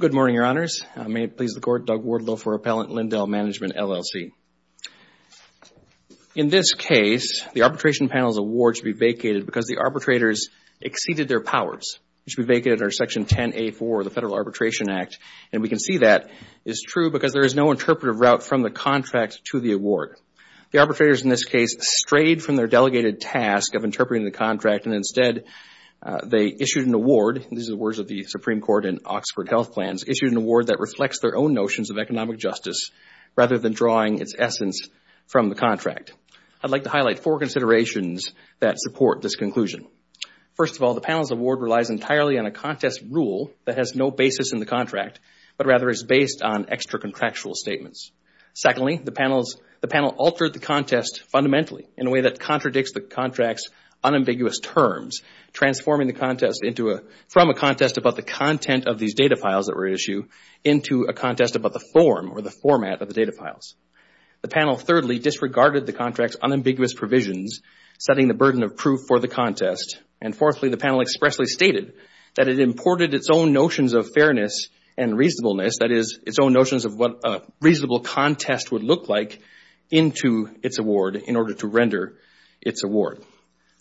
Good morning, Your Honors. May it please the Court, Doug Wardlow for Appellant, Lindell Management, LLC. In this case, the arbitration panel's award should be vacated because the arbitrators exceeded their powers. It should be vacated under Section 10A.4 of the Federal Arbitration Act. And we can see that is true because there is no interpretive route from the contract to the award. The arbitrators in this case strayed from their delegated task of interpreting the contract and instead they issued an award, these are the words of the Supreme Court and Oxford Health Plans, issued an award that reflects their own notions of economic justice rather than drawing its essence from the contract. I would like to highlight four considerations that support this conclusion. First of all, the panel's award relies entirely on a contest rule that has no basis in the contract but rather is based on extra contractual statements. Secondly, the panel altered the contest fundamentally in a way that contradicts the contract's unambiguous terms, transforming the contest from a contest about the content of these data files that were issued into a contest about the form or the format of the data files. The panel thirdly disregarded the contract's unambiguous provisions, setting the burden of proof for the contest, and fourthly, the panel expressly stated that it imported its own notions of fairness and reasonableness, that is, its own notions of what a reasonable contest would look like into its award in order to render its award.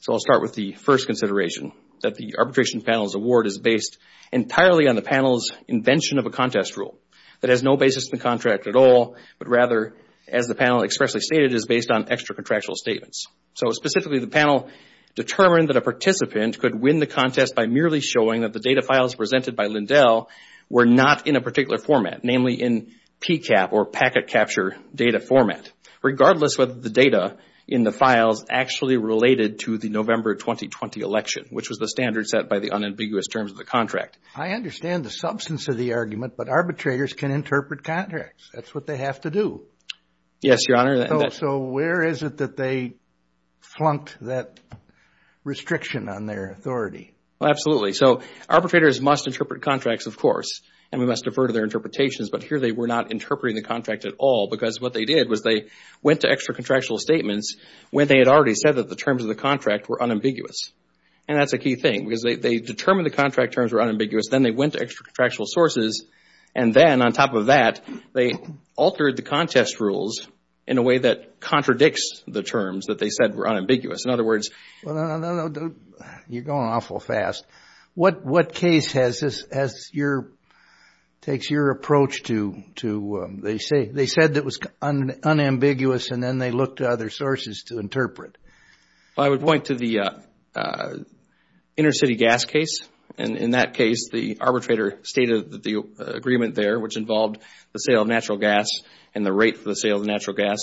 So I'll start with the first consideration, that the arbitration panel's award is based entirely on the panel's invention of a contest rule that has no basis in the contract at all but rather, as the panel expressly stated, is based on extra contractual statements. So specifically, the panel determined that a participant could win the contest by merely showing that the data files presented by Lindell were not in a particular format, namely in PCAP or packet capture data format, regardless whether the data in the files actually related to the November 2020 election, which was the standard set by the unambiguous terms of the contract. I understand the substance of the argument, but arbitrators can interpret contracts. That's what they have to do. Yes, Your Honor. So where is it that they flunked that restriction on their authority? Well, absolutely. So arbitrators must interpret contracts, of course, and we must defer to their interpretations, but here they were not interpreting the contract at all because what they did was they went to extra contractual statements when they had already said that the terms of the contract were unambiguous. And that's a key thing because they determined the contract terms were unambiguous, then they went to extra contractual sources, and then on top of that, they altered the contest rules in a way that contradicts the terms that they said were unambiguous. In other words... Well, no, no, no, you're going awful fast. What case takes your approach to, they said it was unambiguous and then they looked to other sources to interpret? I would point to the intercity gas case. And in that case, the arbitrator stated the agreement there which involved the sale of natural gas and the rate for the sale of natural gas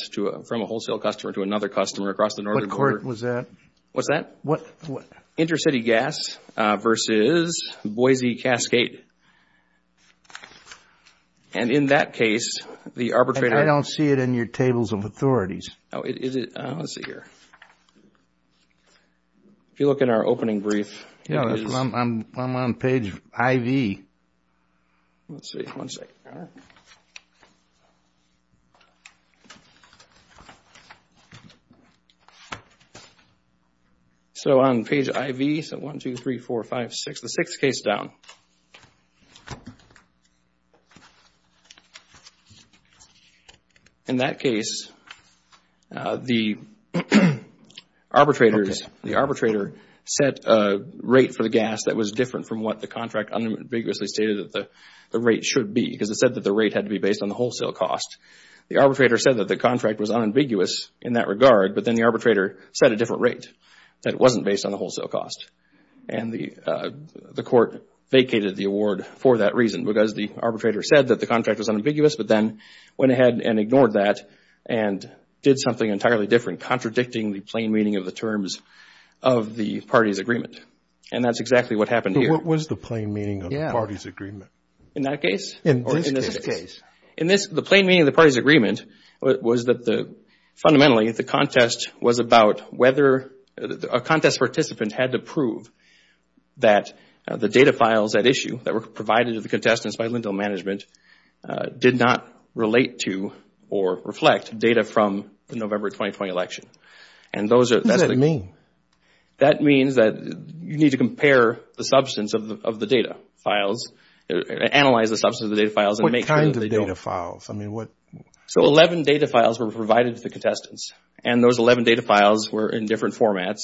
from a wholesale customer to another customer across the northern border. What court was that? What's that? What? Intercity gas versus Boise Cascade. And in that case, the arbitrator... I don't see it in your tables of authorities. Oh, is it? Let's see here. If you look in our opening brief, it is... No, I'm on page IV. Let's see. One second. All right. So on page IV, so 1, 2, 3, 4, 5, 6, the 6th case down. In that case, the arbitrator set a rate for the gas that was different from what the contract unambiguously stated that the rate should be because it said that the rate had to be based on the wholesale cost. The arbitrator said that the contract was unambiguous in that regard, but then the arbitrator set a different rate that wasn't based on the wholesale cost. And the court vacated the award for that reason because the arbitrator said that the contract was unambiguous, but then went ahead and ignored that and did something entirely different, contradicting the plain meaning of the terms of the party's agreement. And that's exactly what happened here. But what was the plain meaning of the party's agreement? In that case? In this case. In this case. The plain meaning of the party's agreement was that fundamentally, the contest was about whether a contest participant had to prove that the data files at issue that were provided to the contestants by Lindell Management did not relate to or reflect data from the November 2020 election. What does that mean? That means that you need to compare the substance of the data files, analyze the substance of the data files and make sure that they don't... What kind of data files? I mean, what... So 11 data files were provided to the contestants and those 11 data files were in different formats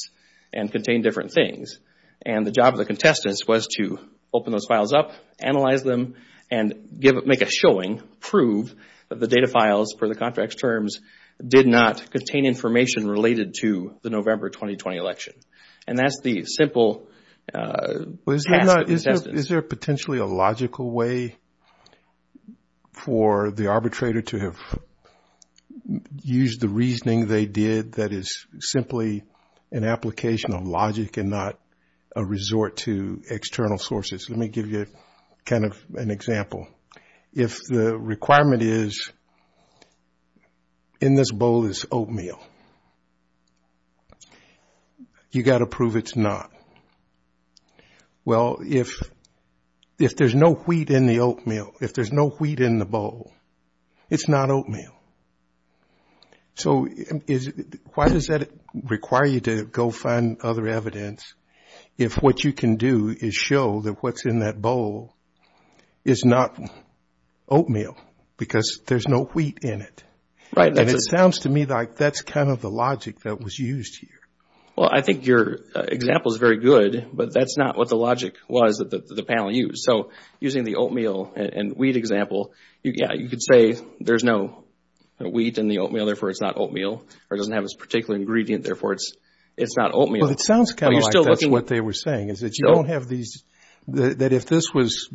and contained different things. And the job of the contestants was to open those files up, analyze them and make a showing, prove that the data files for the contract's terms did not contain information related to the November 2020 election. And that's the simple task of the contestants. Is there potentially a logical way for the arbitrator to have used the reasoning they did that is simply an application of logic and not a resort to external sources? Let me give you kind of an example. If the requirement is, in this bowl is oatmeal, you got to prove it's not. Well, if there's no wheat in the oatmeal, if there's no wheat in the bowl, it's not oatmeal. So why does that require you to go find other evidence if what you can do is show that what's in that bowl is not oatmeal because there's no wheat in it? Right. And it sounds to me like that's kind of the logic that was used here. Well, I think your example is very good, but that's not what the logic was that the panel used. So using the oatmeal and wheat example, yeah, you could say there's no wheat in the oatmeal, therefore it's not oatmeal, or it doesn't have this particular ingredient, therefore it's not oatmeal. Well, it sounds kind of like that's what they were saying, is that you don't have these, that if this was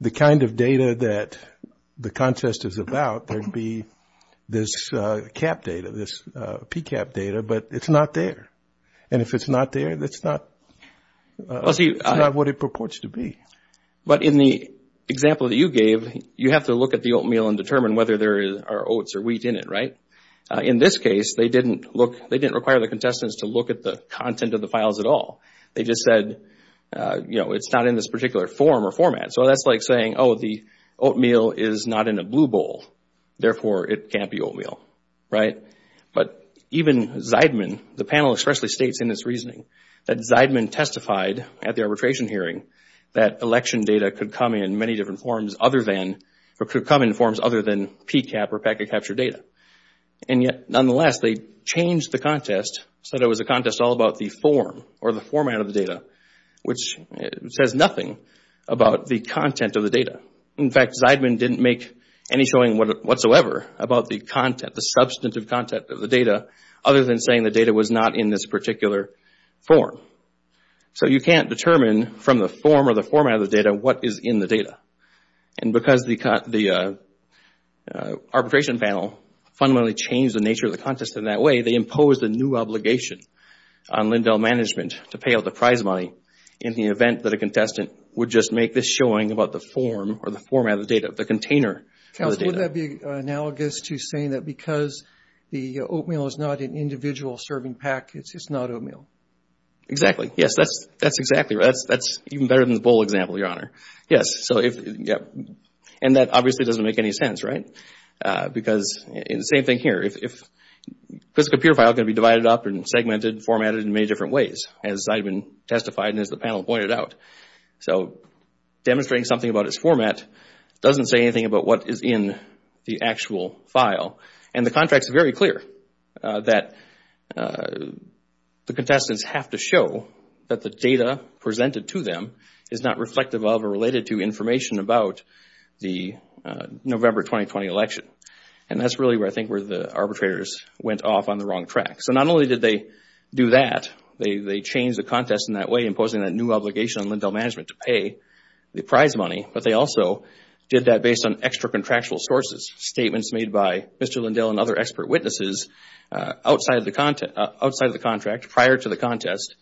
the kind of data that the contest is about, there'd be this CAP data, this PCAP data, but it's not there. And if it's not there, it's not what it purports to be. But in the example that you gave, you have to look at the oatmeal and determine whether there are oats or wheat in it, right? In this case, they didn't require the contestants to look at the content of the files at all. They just said, you know, it's not in this particular form or format. So that's like saying, oh, the oatmeal is not in a blue bowl, therefore it can't be oatmeal, right? But even Zeidman, the panel especially states in its reasoning that Zeidman testified at the arbitration hearing that election data could come in many different forms other than, or could come in forms other than PCAP or packet capture data. And yet, nonetheless, they changed the contest so that it was a contest all about the form or the format of the data, which says nothing about the content of the data. In fact, Zeidman didn't make any showing whatsoever about the content, the substantive content of the data, other than saying the data was not in this particular form. So you can't determine from the form or the format of the data what is in the data. And because the arbitration panel fundamentally changed the nature of the contest in that way, they imposed a new obligation on Lindell Management to pay out the prize money in the event that a contestant would just make this showing about the form or the format of the data, the container of the data. Counsel, would that be analogous to saying that because the oatmeal is not an individual serving pack, it's just not oatmeal? Exactly. Yes, that's exactly right. That's even better than the bowl example, Your Honor. Yes. And that obviously doesn't make any sense, right? Because the same thing here, if this computer file can be divided up and segmented and formatted in many different ways, as Zeidman testified and as the panel pointed out. So demonstrating something about its format doesn't say anything about what is in the actual file. And the contract is very clear that the contestants have to show that the data presented to them is not reflective of or related to information about the November 2020 election. And that's really where I think where the arbitrators went off on the wrong track. So not only did they do that, they changed the contest in that way, imposing a new obligation on Lindell Management to pay the prize money, but they also did that based on extra contractual sources, statements made by Mr. Lindell and other expert witnesses outside of the contract, prior to the contest,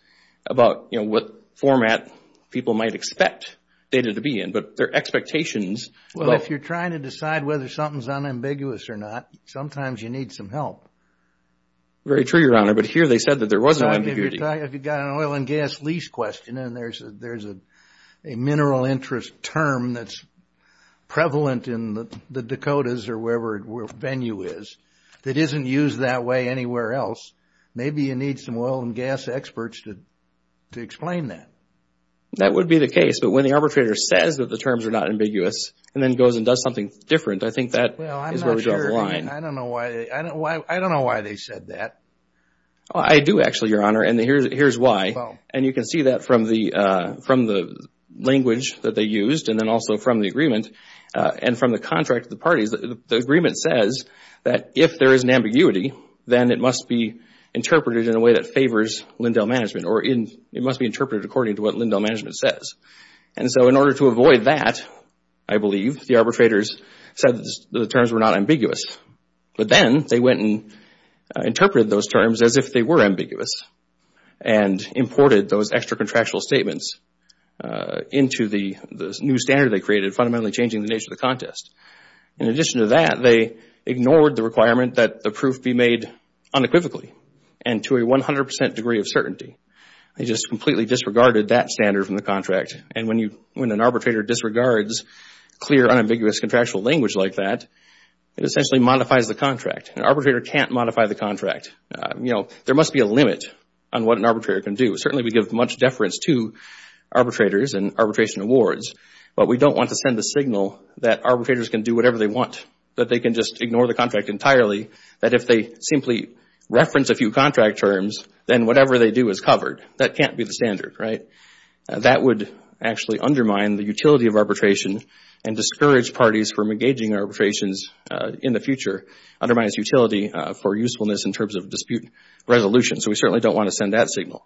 about what format people might expect data to be in. But their expectations... Well, if you're trying to decide whether something's unambiguous or not, sometimes you need some help. Very true, Your Honor. But here they said that there was an ambiguity. If you've got an oil and gas lease question and there's a mineral interest term that's prevalent in the Dakotas or wherever the venue is, that isn't used that way anywhere else, maybe you need some oil and gas experts to explain that. That would be the case. But when the arbitrator says that the terms are not ambiguous and then goes and does something different, I think that is where we draw the line. I don't know why they said that. I do actually, Your Honor, and here's why. And you can see that from the language that they used and then also from the agreement and from the contract of the parties. The agreement says that if there is an ambiguity, then it must be interpreted in a way that favors Lindell Management or it must be interpreted according to what Lindell Management says. And so in order to avoid that, I believe, the arbitrators said that the terms were not ambiguous. But then they went and interpreted those terms as if they were ambiguous and imported those extra contractual statements into the new standard they created, fundamentally changing the nature of the contest. In addition to that, they ignored the requirement that the proof be made unequivocally and to a 100% degree of certainty. They just completely disregarded that standard from the contract. And when an arbitrator disregards clear, unambiguous contractual language like that, it essentially modifies the contract. An arbitrator can't modify the contract. There must be a limit on what an arbitrator can do. Certainly, we give much deference to arbitrators and arbitration awards, but we don't want to send a signal that arbitrators can do whatever they want, that they can just ignore the contract entirely, that if they simply reference a few contract terms, then whatever they do is covered. That can't be the standard, right? That would actually undermine the utility of arbitration and discourage parties from engaging arbitrations in the future, undermine its utility for usefulness in terms of dispute resolution. So we certainly don't want to send that signal.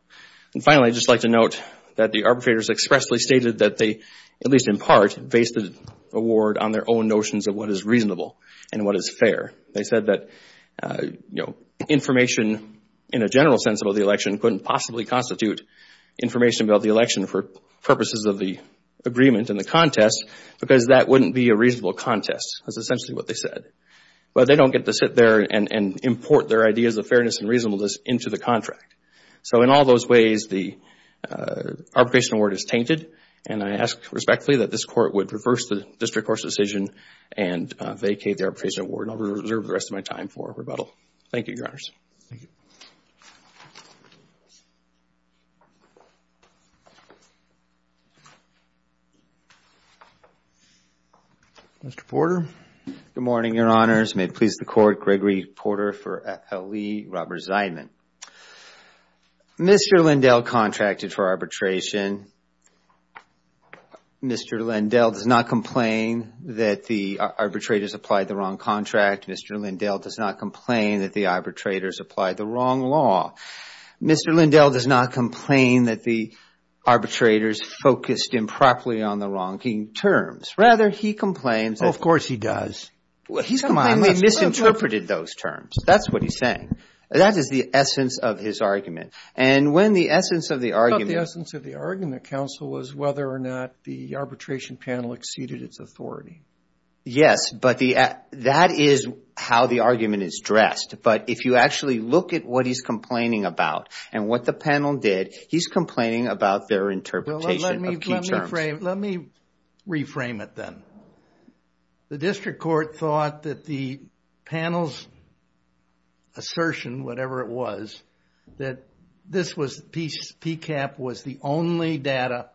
And finally, I'd just like to note that the arbitrators expressly stated that they, at least in part, based the award on their own notions of what is reasonable and what is fair. They said that, you know, information in a general sense about the election couldn't possibly constitute information about the election for purposes of the agreement and the contest because that wouldn't be a reasonable contest. That's essentially what they said. But they don't get to sit there and import their ideas of fairness and reasonableness into the contract. So in all those ways, the arbitration award is tainted. And I ask respectfully that this Court would reverse the district court's decision and vacate the arbitration award. And I'll reserve the rest of my time for rebuttal. Thank you, Your Honors. Mr. Porter. Good morning, Your Honors. May it please the Court, Gregory Porter for L.E. Roberts-Zeidman. Mr. Lindell contracted for arbitration. Mr. Lindell does not complain that the arbitrators applied the wrong contract. Mr. Lindell does not complain that the arbitrators applied the wrong law. Mr. Lindell does not complain that the arbitrators focused improperly on the wrong terms. Rather, he complains that... Oh, of course he does. He's misinterpreted those terms. That's what he's saying. That is the essence of his argument. And when the essence of the argument... But the essence of the argument, counsel, was whether or not the arbitration panel exceeded its authority. Yes, but that is how the argument is dressed. But if you actually look at what he's complaining about and what the panel did, he's complaining about their interpretation of key terms. Let me reframe it then. The district court thought that the panel's assertion, whatever it was, that PCAP was the only data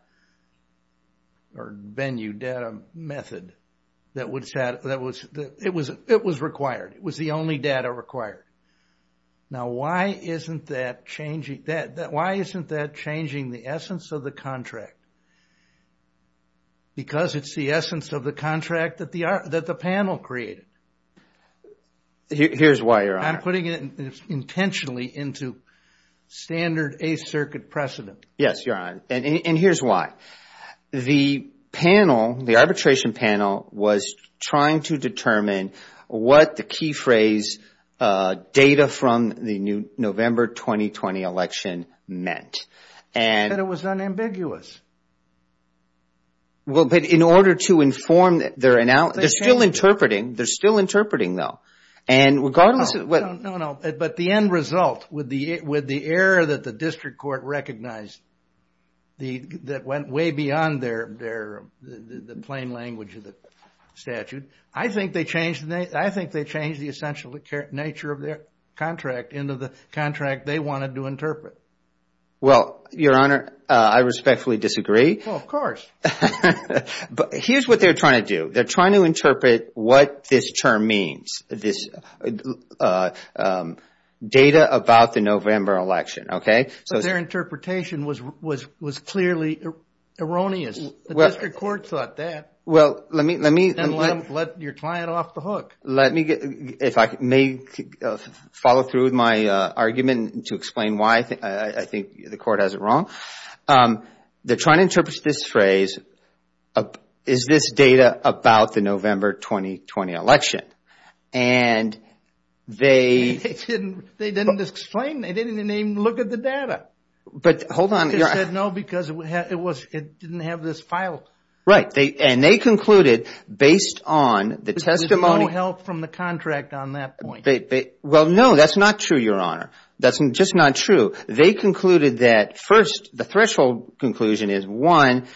or venue data method that was required. It was the only data required. Now, why isn't that changing the essence of the contract? Because it's the essence of the contract that the panel created. Here's why you're on it. I'm putting it intentionally into standard A circuit precedent. Yes, you're on it. And here's why. The panel, the arbitration panel, was trying to determine what the key phrase data from the November 2020 election meant. And it was unambiguous. Well, but in order to inform their analysis, they're still interpreting. They're still interpreting, though. And regardless of what... No, no, no. But the end result, with the error that the district court recognized, that went way beyond the plain language of the statute, I think they changed the essential nature of their contract into the contract they wanted to interpret. Well, Your Honor, I respectfully disagree. Well, of course. But here's what they're trying to do. They're trying to interpret what this term means. This data about the November election, okay? So their interpretation was clearly erroneous. The district court thought that. Well, let me... And let your client off the hook. If I may follow through with my argument to explain why I think the court has it wrong. They're trying to interpret this phrase, is this data about the November 2020 election? And they... They didn't explain. They didn't even look at the data. But hold on. They said no because it didn't have this file. Right. And they concluded, based on the testimony... From the contract on that point. Well, no, that's not true, Your Honor. That's just not true. They concluded that, first, the threshold conclusion is, one,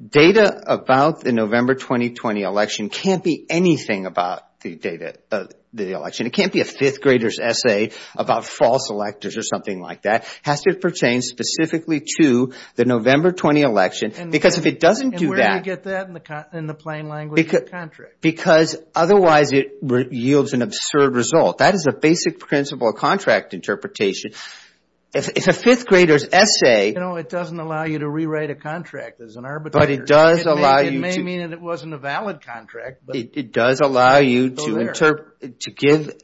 data about the November 2020 election can't be anything about the election. It can't be a fifth grader's essay about false electors or something like that. Has to pertain specifically to the November 20 election. Because if it doesn't do that... And where do you get that in the plain language of the contract? Because otherwise it yields an absurd result. That is a basic principle of contract interpretation. It's a fifth grader's essay. You know, it doesn't allow you to rewrite a contract as an arbitrator. But it does allow you to... It may mean that it wasn't a valid contract, but... It does allow you to give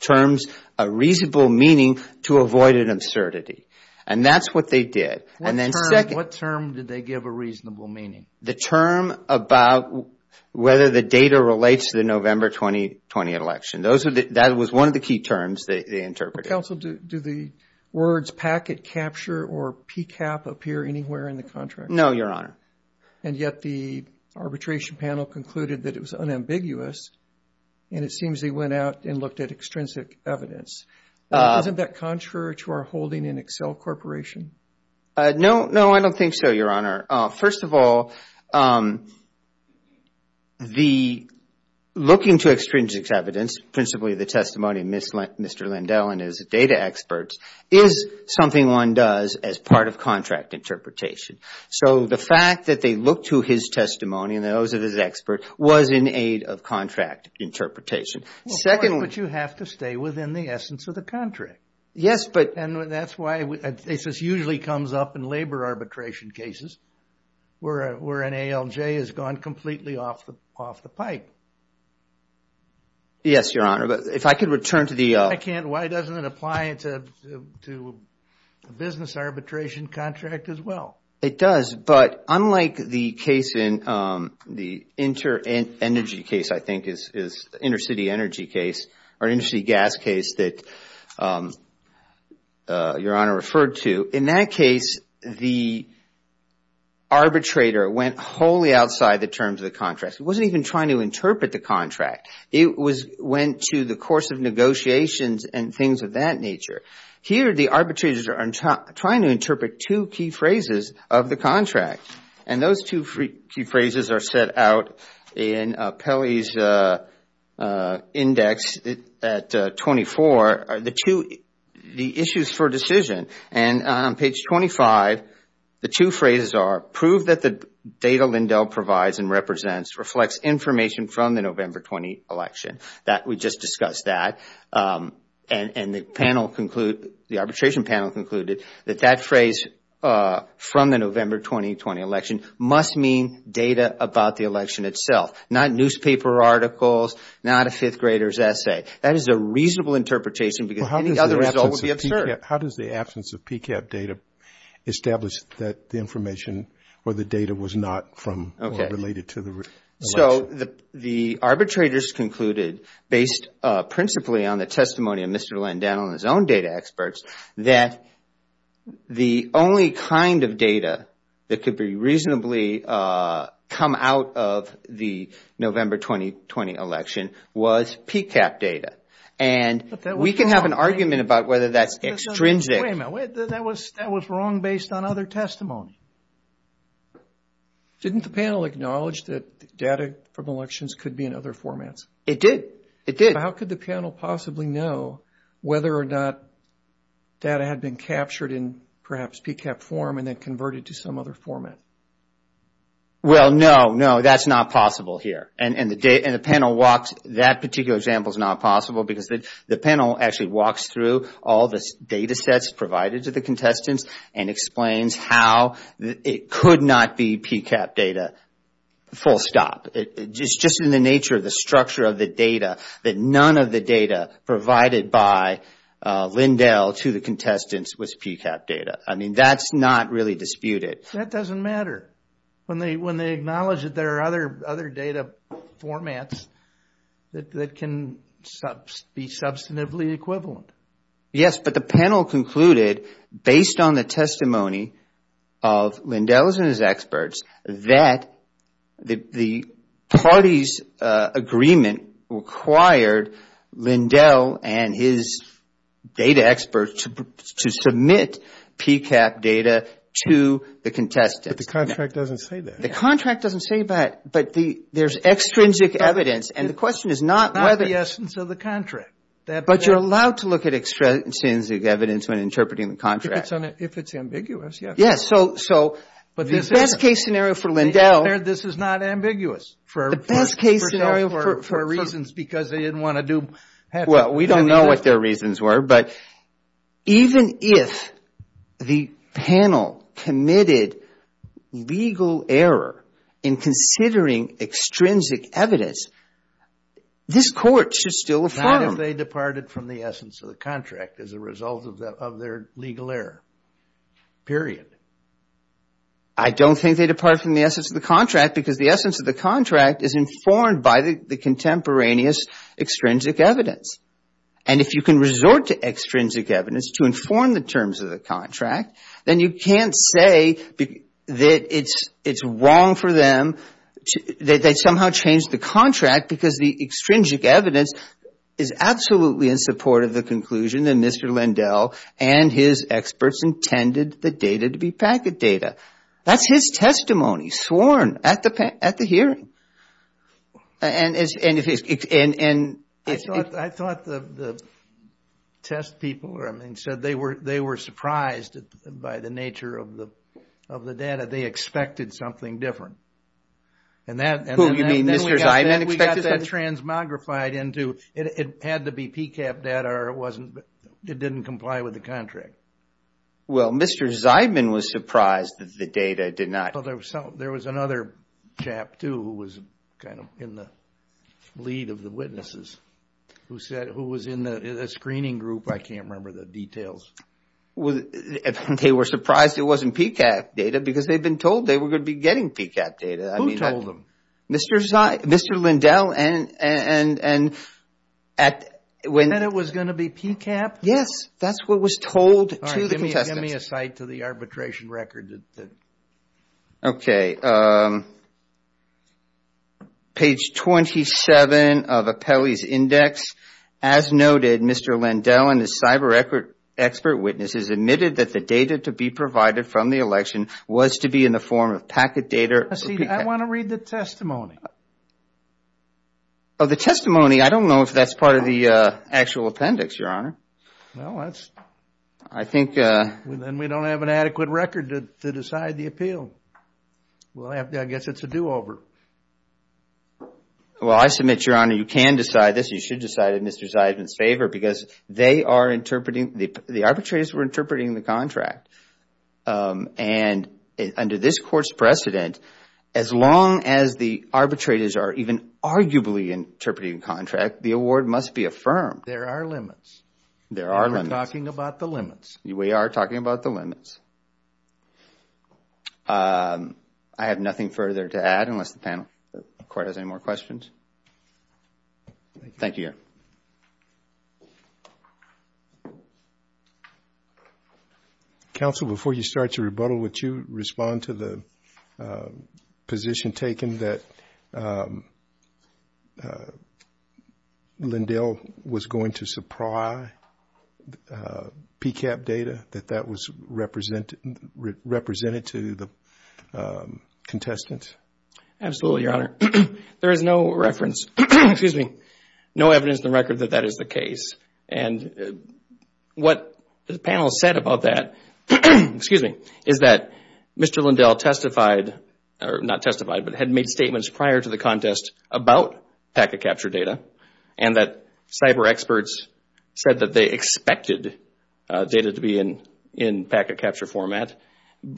terms a reasonable meaning to avoid an absurdity. And that's what they did. And then second... What term did they give a reasonable meaning? The term about whether the data relates to the November 2020 election. Those are the... That was one of the key terms they interpreted. Counsel, do the words packet capture or PCAP appear anywhere in the contract? No, Your Honor. And yet the arbitration panel concluded that it was unambiguous. And it seems they went out and looked at extrinsic evidence. Isn't that contrary to our holding in Excel Corporation? No, no, I don't think so, Your Honor. First of all, the looking to extrinsic evidence, principally the testimony of Mr. Lindell and his data experts, is something one does as part of contract interpretation. So the fact that they look to his testimony and those of his expert was in aid of contract interpretation. Second... But you have to stay within the essence of the contract. Yes, but... And that's why this usually comes up in labor arbitration cases. Where an ALJ has gone completely off the pike. Yes, Your Honor. But if I could return to the... I can't. Why doesn't it apply to a business arbitration contract as well? It does. But unlike the case in... The inter-energy case, I think, is intercity energy case or intercity gas case that Your Honor referred to. In that case, the arbitrator went wholly outside the terms of the contract. It wasn't even trying to interpret the contract. It went to the course of negotiations and things of that nature. Here, the arbitrators are trying to interpret two key phrases of the contract. And those two key phrases are set out in Pelley's index at 24. The issues for decision. And on page 25, the two phrases are, prove that the data Lindell provides and represents reflects information from the November 20 election. That we just discussed that. And the panel conclude, the arbitration panel concluded that that phrase from the November 2020 election must mean data about the election itself. Not newspaper articles, not a fifth grader's essay. That is a reasonable interpretation because any other result would be absurd. How does the absence of PCAPP data establish that the information or the data was not from or related to the election? So the arbitrators concluded, based principally on the testimony of Mr. Lindell and his own data experts, that the only kind of data that could be reasonably come out of the November 2020 election was PCAPP data. And we can have an argument about whether that's extrinsic. Wait a minute, that was wrong based on other testimony. Didn't the panel acknowledge that data from elections could be in other formats? It did, it did. How could the panel possibly know whether or not data had been captured in perhaps PCAPP form and then converted to some other format? Well, no, no, that's not possible here. And the panel walks, that particular example is not possible because the panel actually walks through all the data sets provided to the contestants and explains how it could not be PCAPP data, full stop. It's just in the nature of the structure of the data that none of the data provided by Lindell to the contestants was PCAPP data. I mean, that's not really disputed. That doesn't matter. When they acknowledge that there are other data formats that can be substantively equivalent. Yes, but the panel concluded based on the testimony of Lindell's and his experts that the party's agreement required Lindell and his data experts to submit PCAPP data to the contestants. The contract doesn't say that. The contract doesn't say that, but there's extrinsic evidence and the question is not whether... Not the essence of the contract. But you're allowed to look at extrinsic evidence when interpreting the contract. If it's ambiguous, yes. Yes, so the best case scenario for Lindell... This is not ambiguous for reasons because they didn't want to do... Well, we don't know what their reasons were, but even if the panel committed legal error in considering extrinsic evidence, this court should still affirm... Not if they departed from the essence of the contract as a result of their legal error, period. I don't think they departed from the essence of the contract because the essence of the contract is informed by the contemporaneous extrinsic evidence. And if you can resort to extrinsic evidence to inform the terms of the contract, then you can't say that it's wrong for them... That they somehow changed the contract because the extrinsic evidence is absolutely in support of the conclusion that Mr. Lindell and his experts intended the data to be packet data. That's his testimony sworn at the hearing. And I thought the test people, I mean, said they were surprised by the nature of the data. They expected something different. And then we got that transmogrified into... It had to be PCAP data or it didn't comply with the contract. Well, Mr. Zeidman was surprised that the data did not... There was another chap too who was kind of in the lead of the witnesses who said, who was in the screening group. I can't remember the details. They were surprised it wasn't PCAP data because they've been told they were going to be getting PCAP data. Who told them? Mr. Lindell and at... And that it was going to be PCAP? Yes, that's what was told to the contestants. Give me a cite to the arbitration record. Okay. Page 27 of Apelli's index. As noted, Mr. Lindell and his cyber expert witnesses admitted that the data to be provided from the election was to be in the form of packet data. See, I want to read the testimony. Oh, the testimony. I don't know if that's part of the actual appendix, Your Honor. No, that's... I think... Then we don't have an adequate record to decide the appeal. Well, I guess it's a do-over. Well, I submit, Your Honor, you can decide this. You should decide in Mr. Zeidman's favor because they are interpreting... The arbitrators were interpreting the contract. And under this court's precedent, as long as the arbitrators are even arguably interpreting contract, the award must be affirmed. There are limits. There are limits. We're talking about the limits. We are talking about the limits. I have nothing further to add unless the panel... Court has any more questions. Thank you, Your Honor. Counsel, before you start your rebuttal, would you respond to the position taken that Lindell was going to supply PCAPP data, that that was represented to the contestants? Absolutely, Your Honor. There is no reference, excuse me, no evidence in the record that that is the case. And what the panel said about that, excuse me, is that Mr. Lindell testified, or not testified, but had made statements prior to the contest about PACA capture data, and that cyber experts said that they expected data to be in PACA capture format,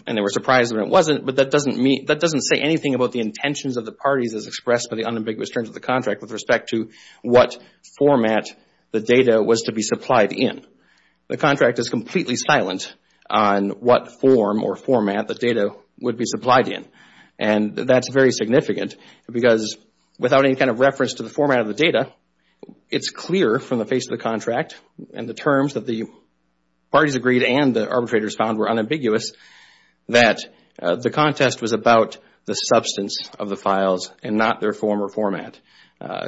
and they were surprised when it wasn't, but that doesn't say anything about the intentions of the parties as expressed by the unambiguous terms of the contract with respect to what format the data was to be supplied in. The contract is completely silent on what form or format the data would be supplied in, and that's very significant because without any kind of reference to the format of the data, it's clear from the face of the contract and the terms that the parties agreed and the arbitrators found were unambiguous that the contest was about the substance of the files and not their form or format.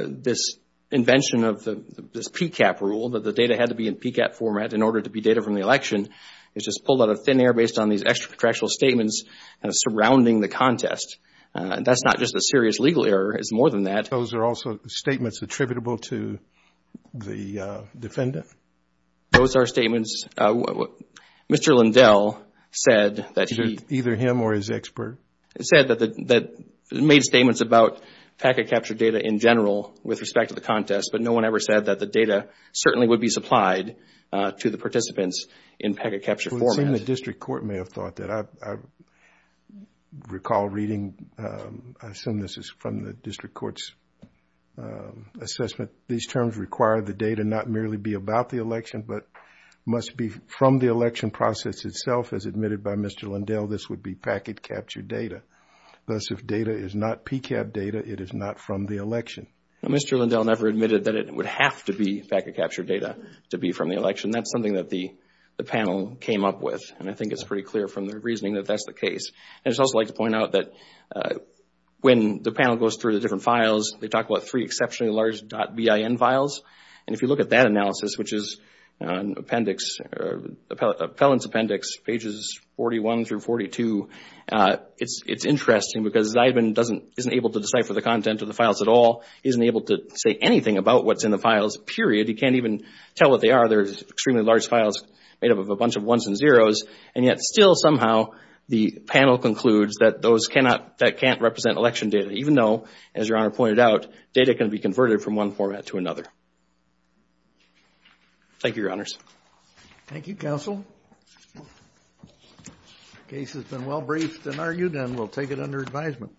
This invention of this PCAPP rule that the data had to be in PCAPP format in order to be data from the election is just pulled out of thin air based on these extra contractual statements surrounding the contest. That's not just a serious legal error, it's more than that. Those are also statements attributable to the defendant? Those are statements. Mr. Lindell said that he... Either him or his expert. He said that he made statements about packet capture data in general with respect to the contest, but no one ever said that the data certainly would be supplied to the participants in packet capture format. It would seem the district court may have thought that. I recall reading, I assume this is from the district court's assessment these terms require the data not merely be about the election but must be from the election process itself. As admitted by Mr. Lindell, this would be packet capture data. Thus, if data is not PCAPP data, it is not from the election. Mr. Lindell never admitted that it would have to be packet capture data to be from the election. That's something that the panel came up with and I think it's pretty clear from their reasoning that that's the case. And I'd just like to point out that when the panel goes through the different files, they talk about three exceptionally large .bin files. And if you look at that analysis, which is Appellant's Appendix, pages 41 through 42, it's interesting because Zybin isn't able to decipher the content of the files at all. He isn't able to say anything about what's in the files, period. He can't even tell what they are. They're extremely large files made up of a bunch of ones and zeros. And yet still somehow the panel concludes that that can't represent election data, even though, as Your Honor pointed out, data can be converted from one format to another. Thank you, Your Honors. Thank you, Counsel. The case has been well briefed and argued and we'll take it under advisement.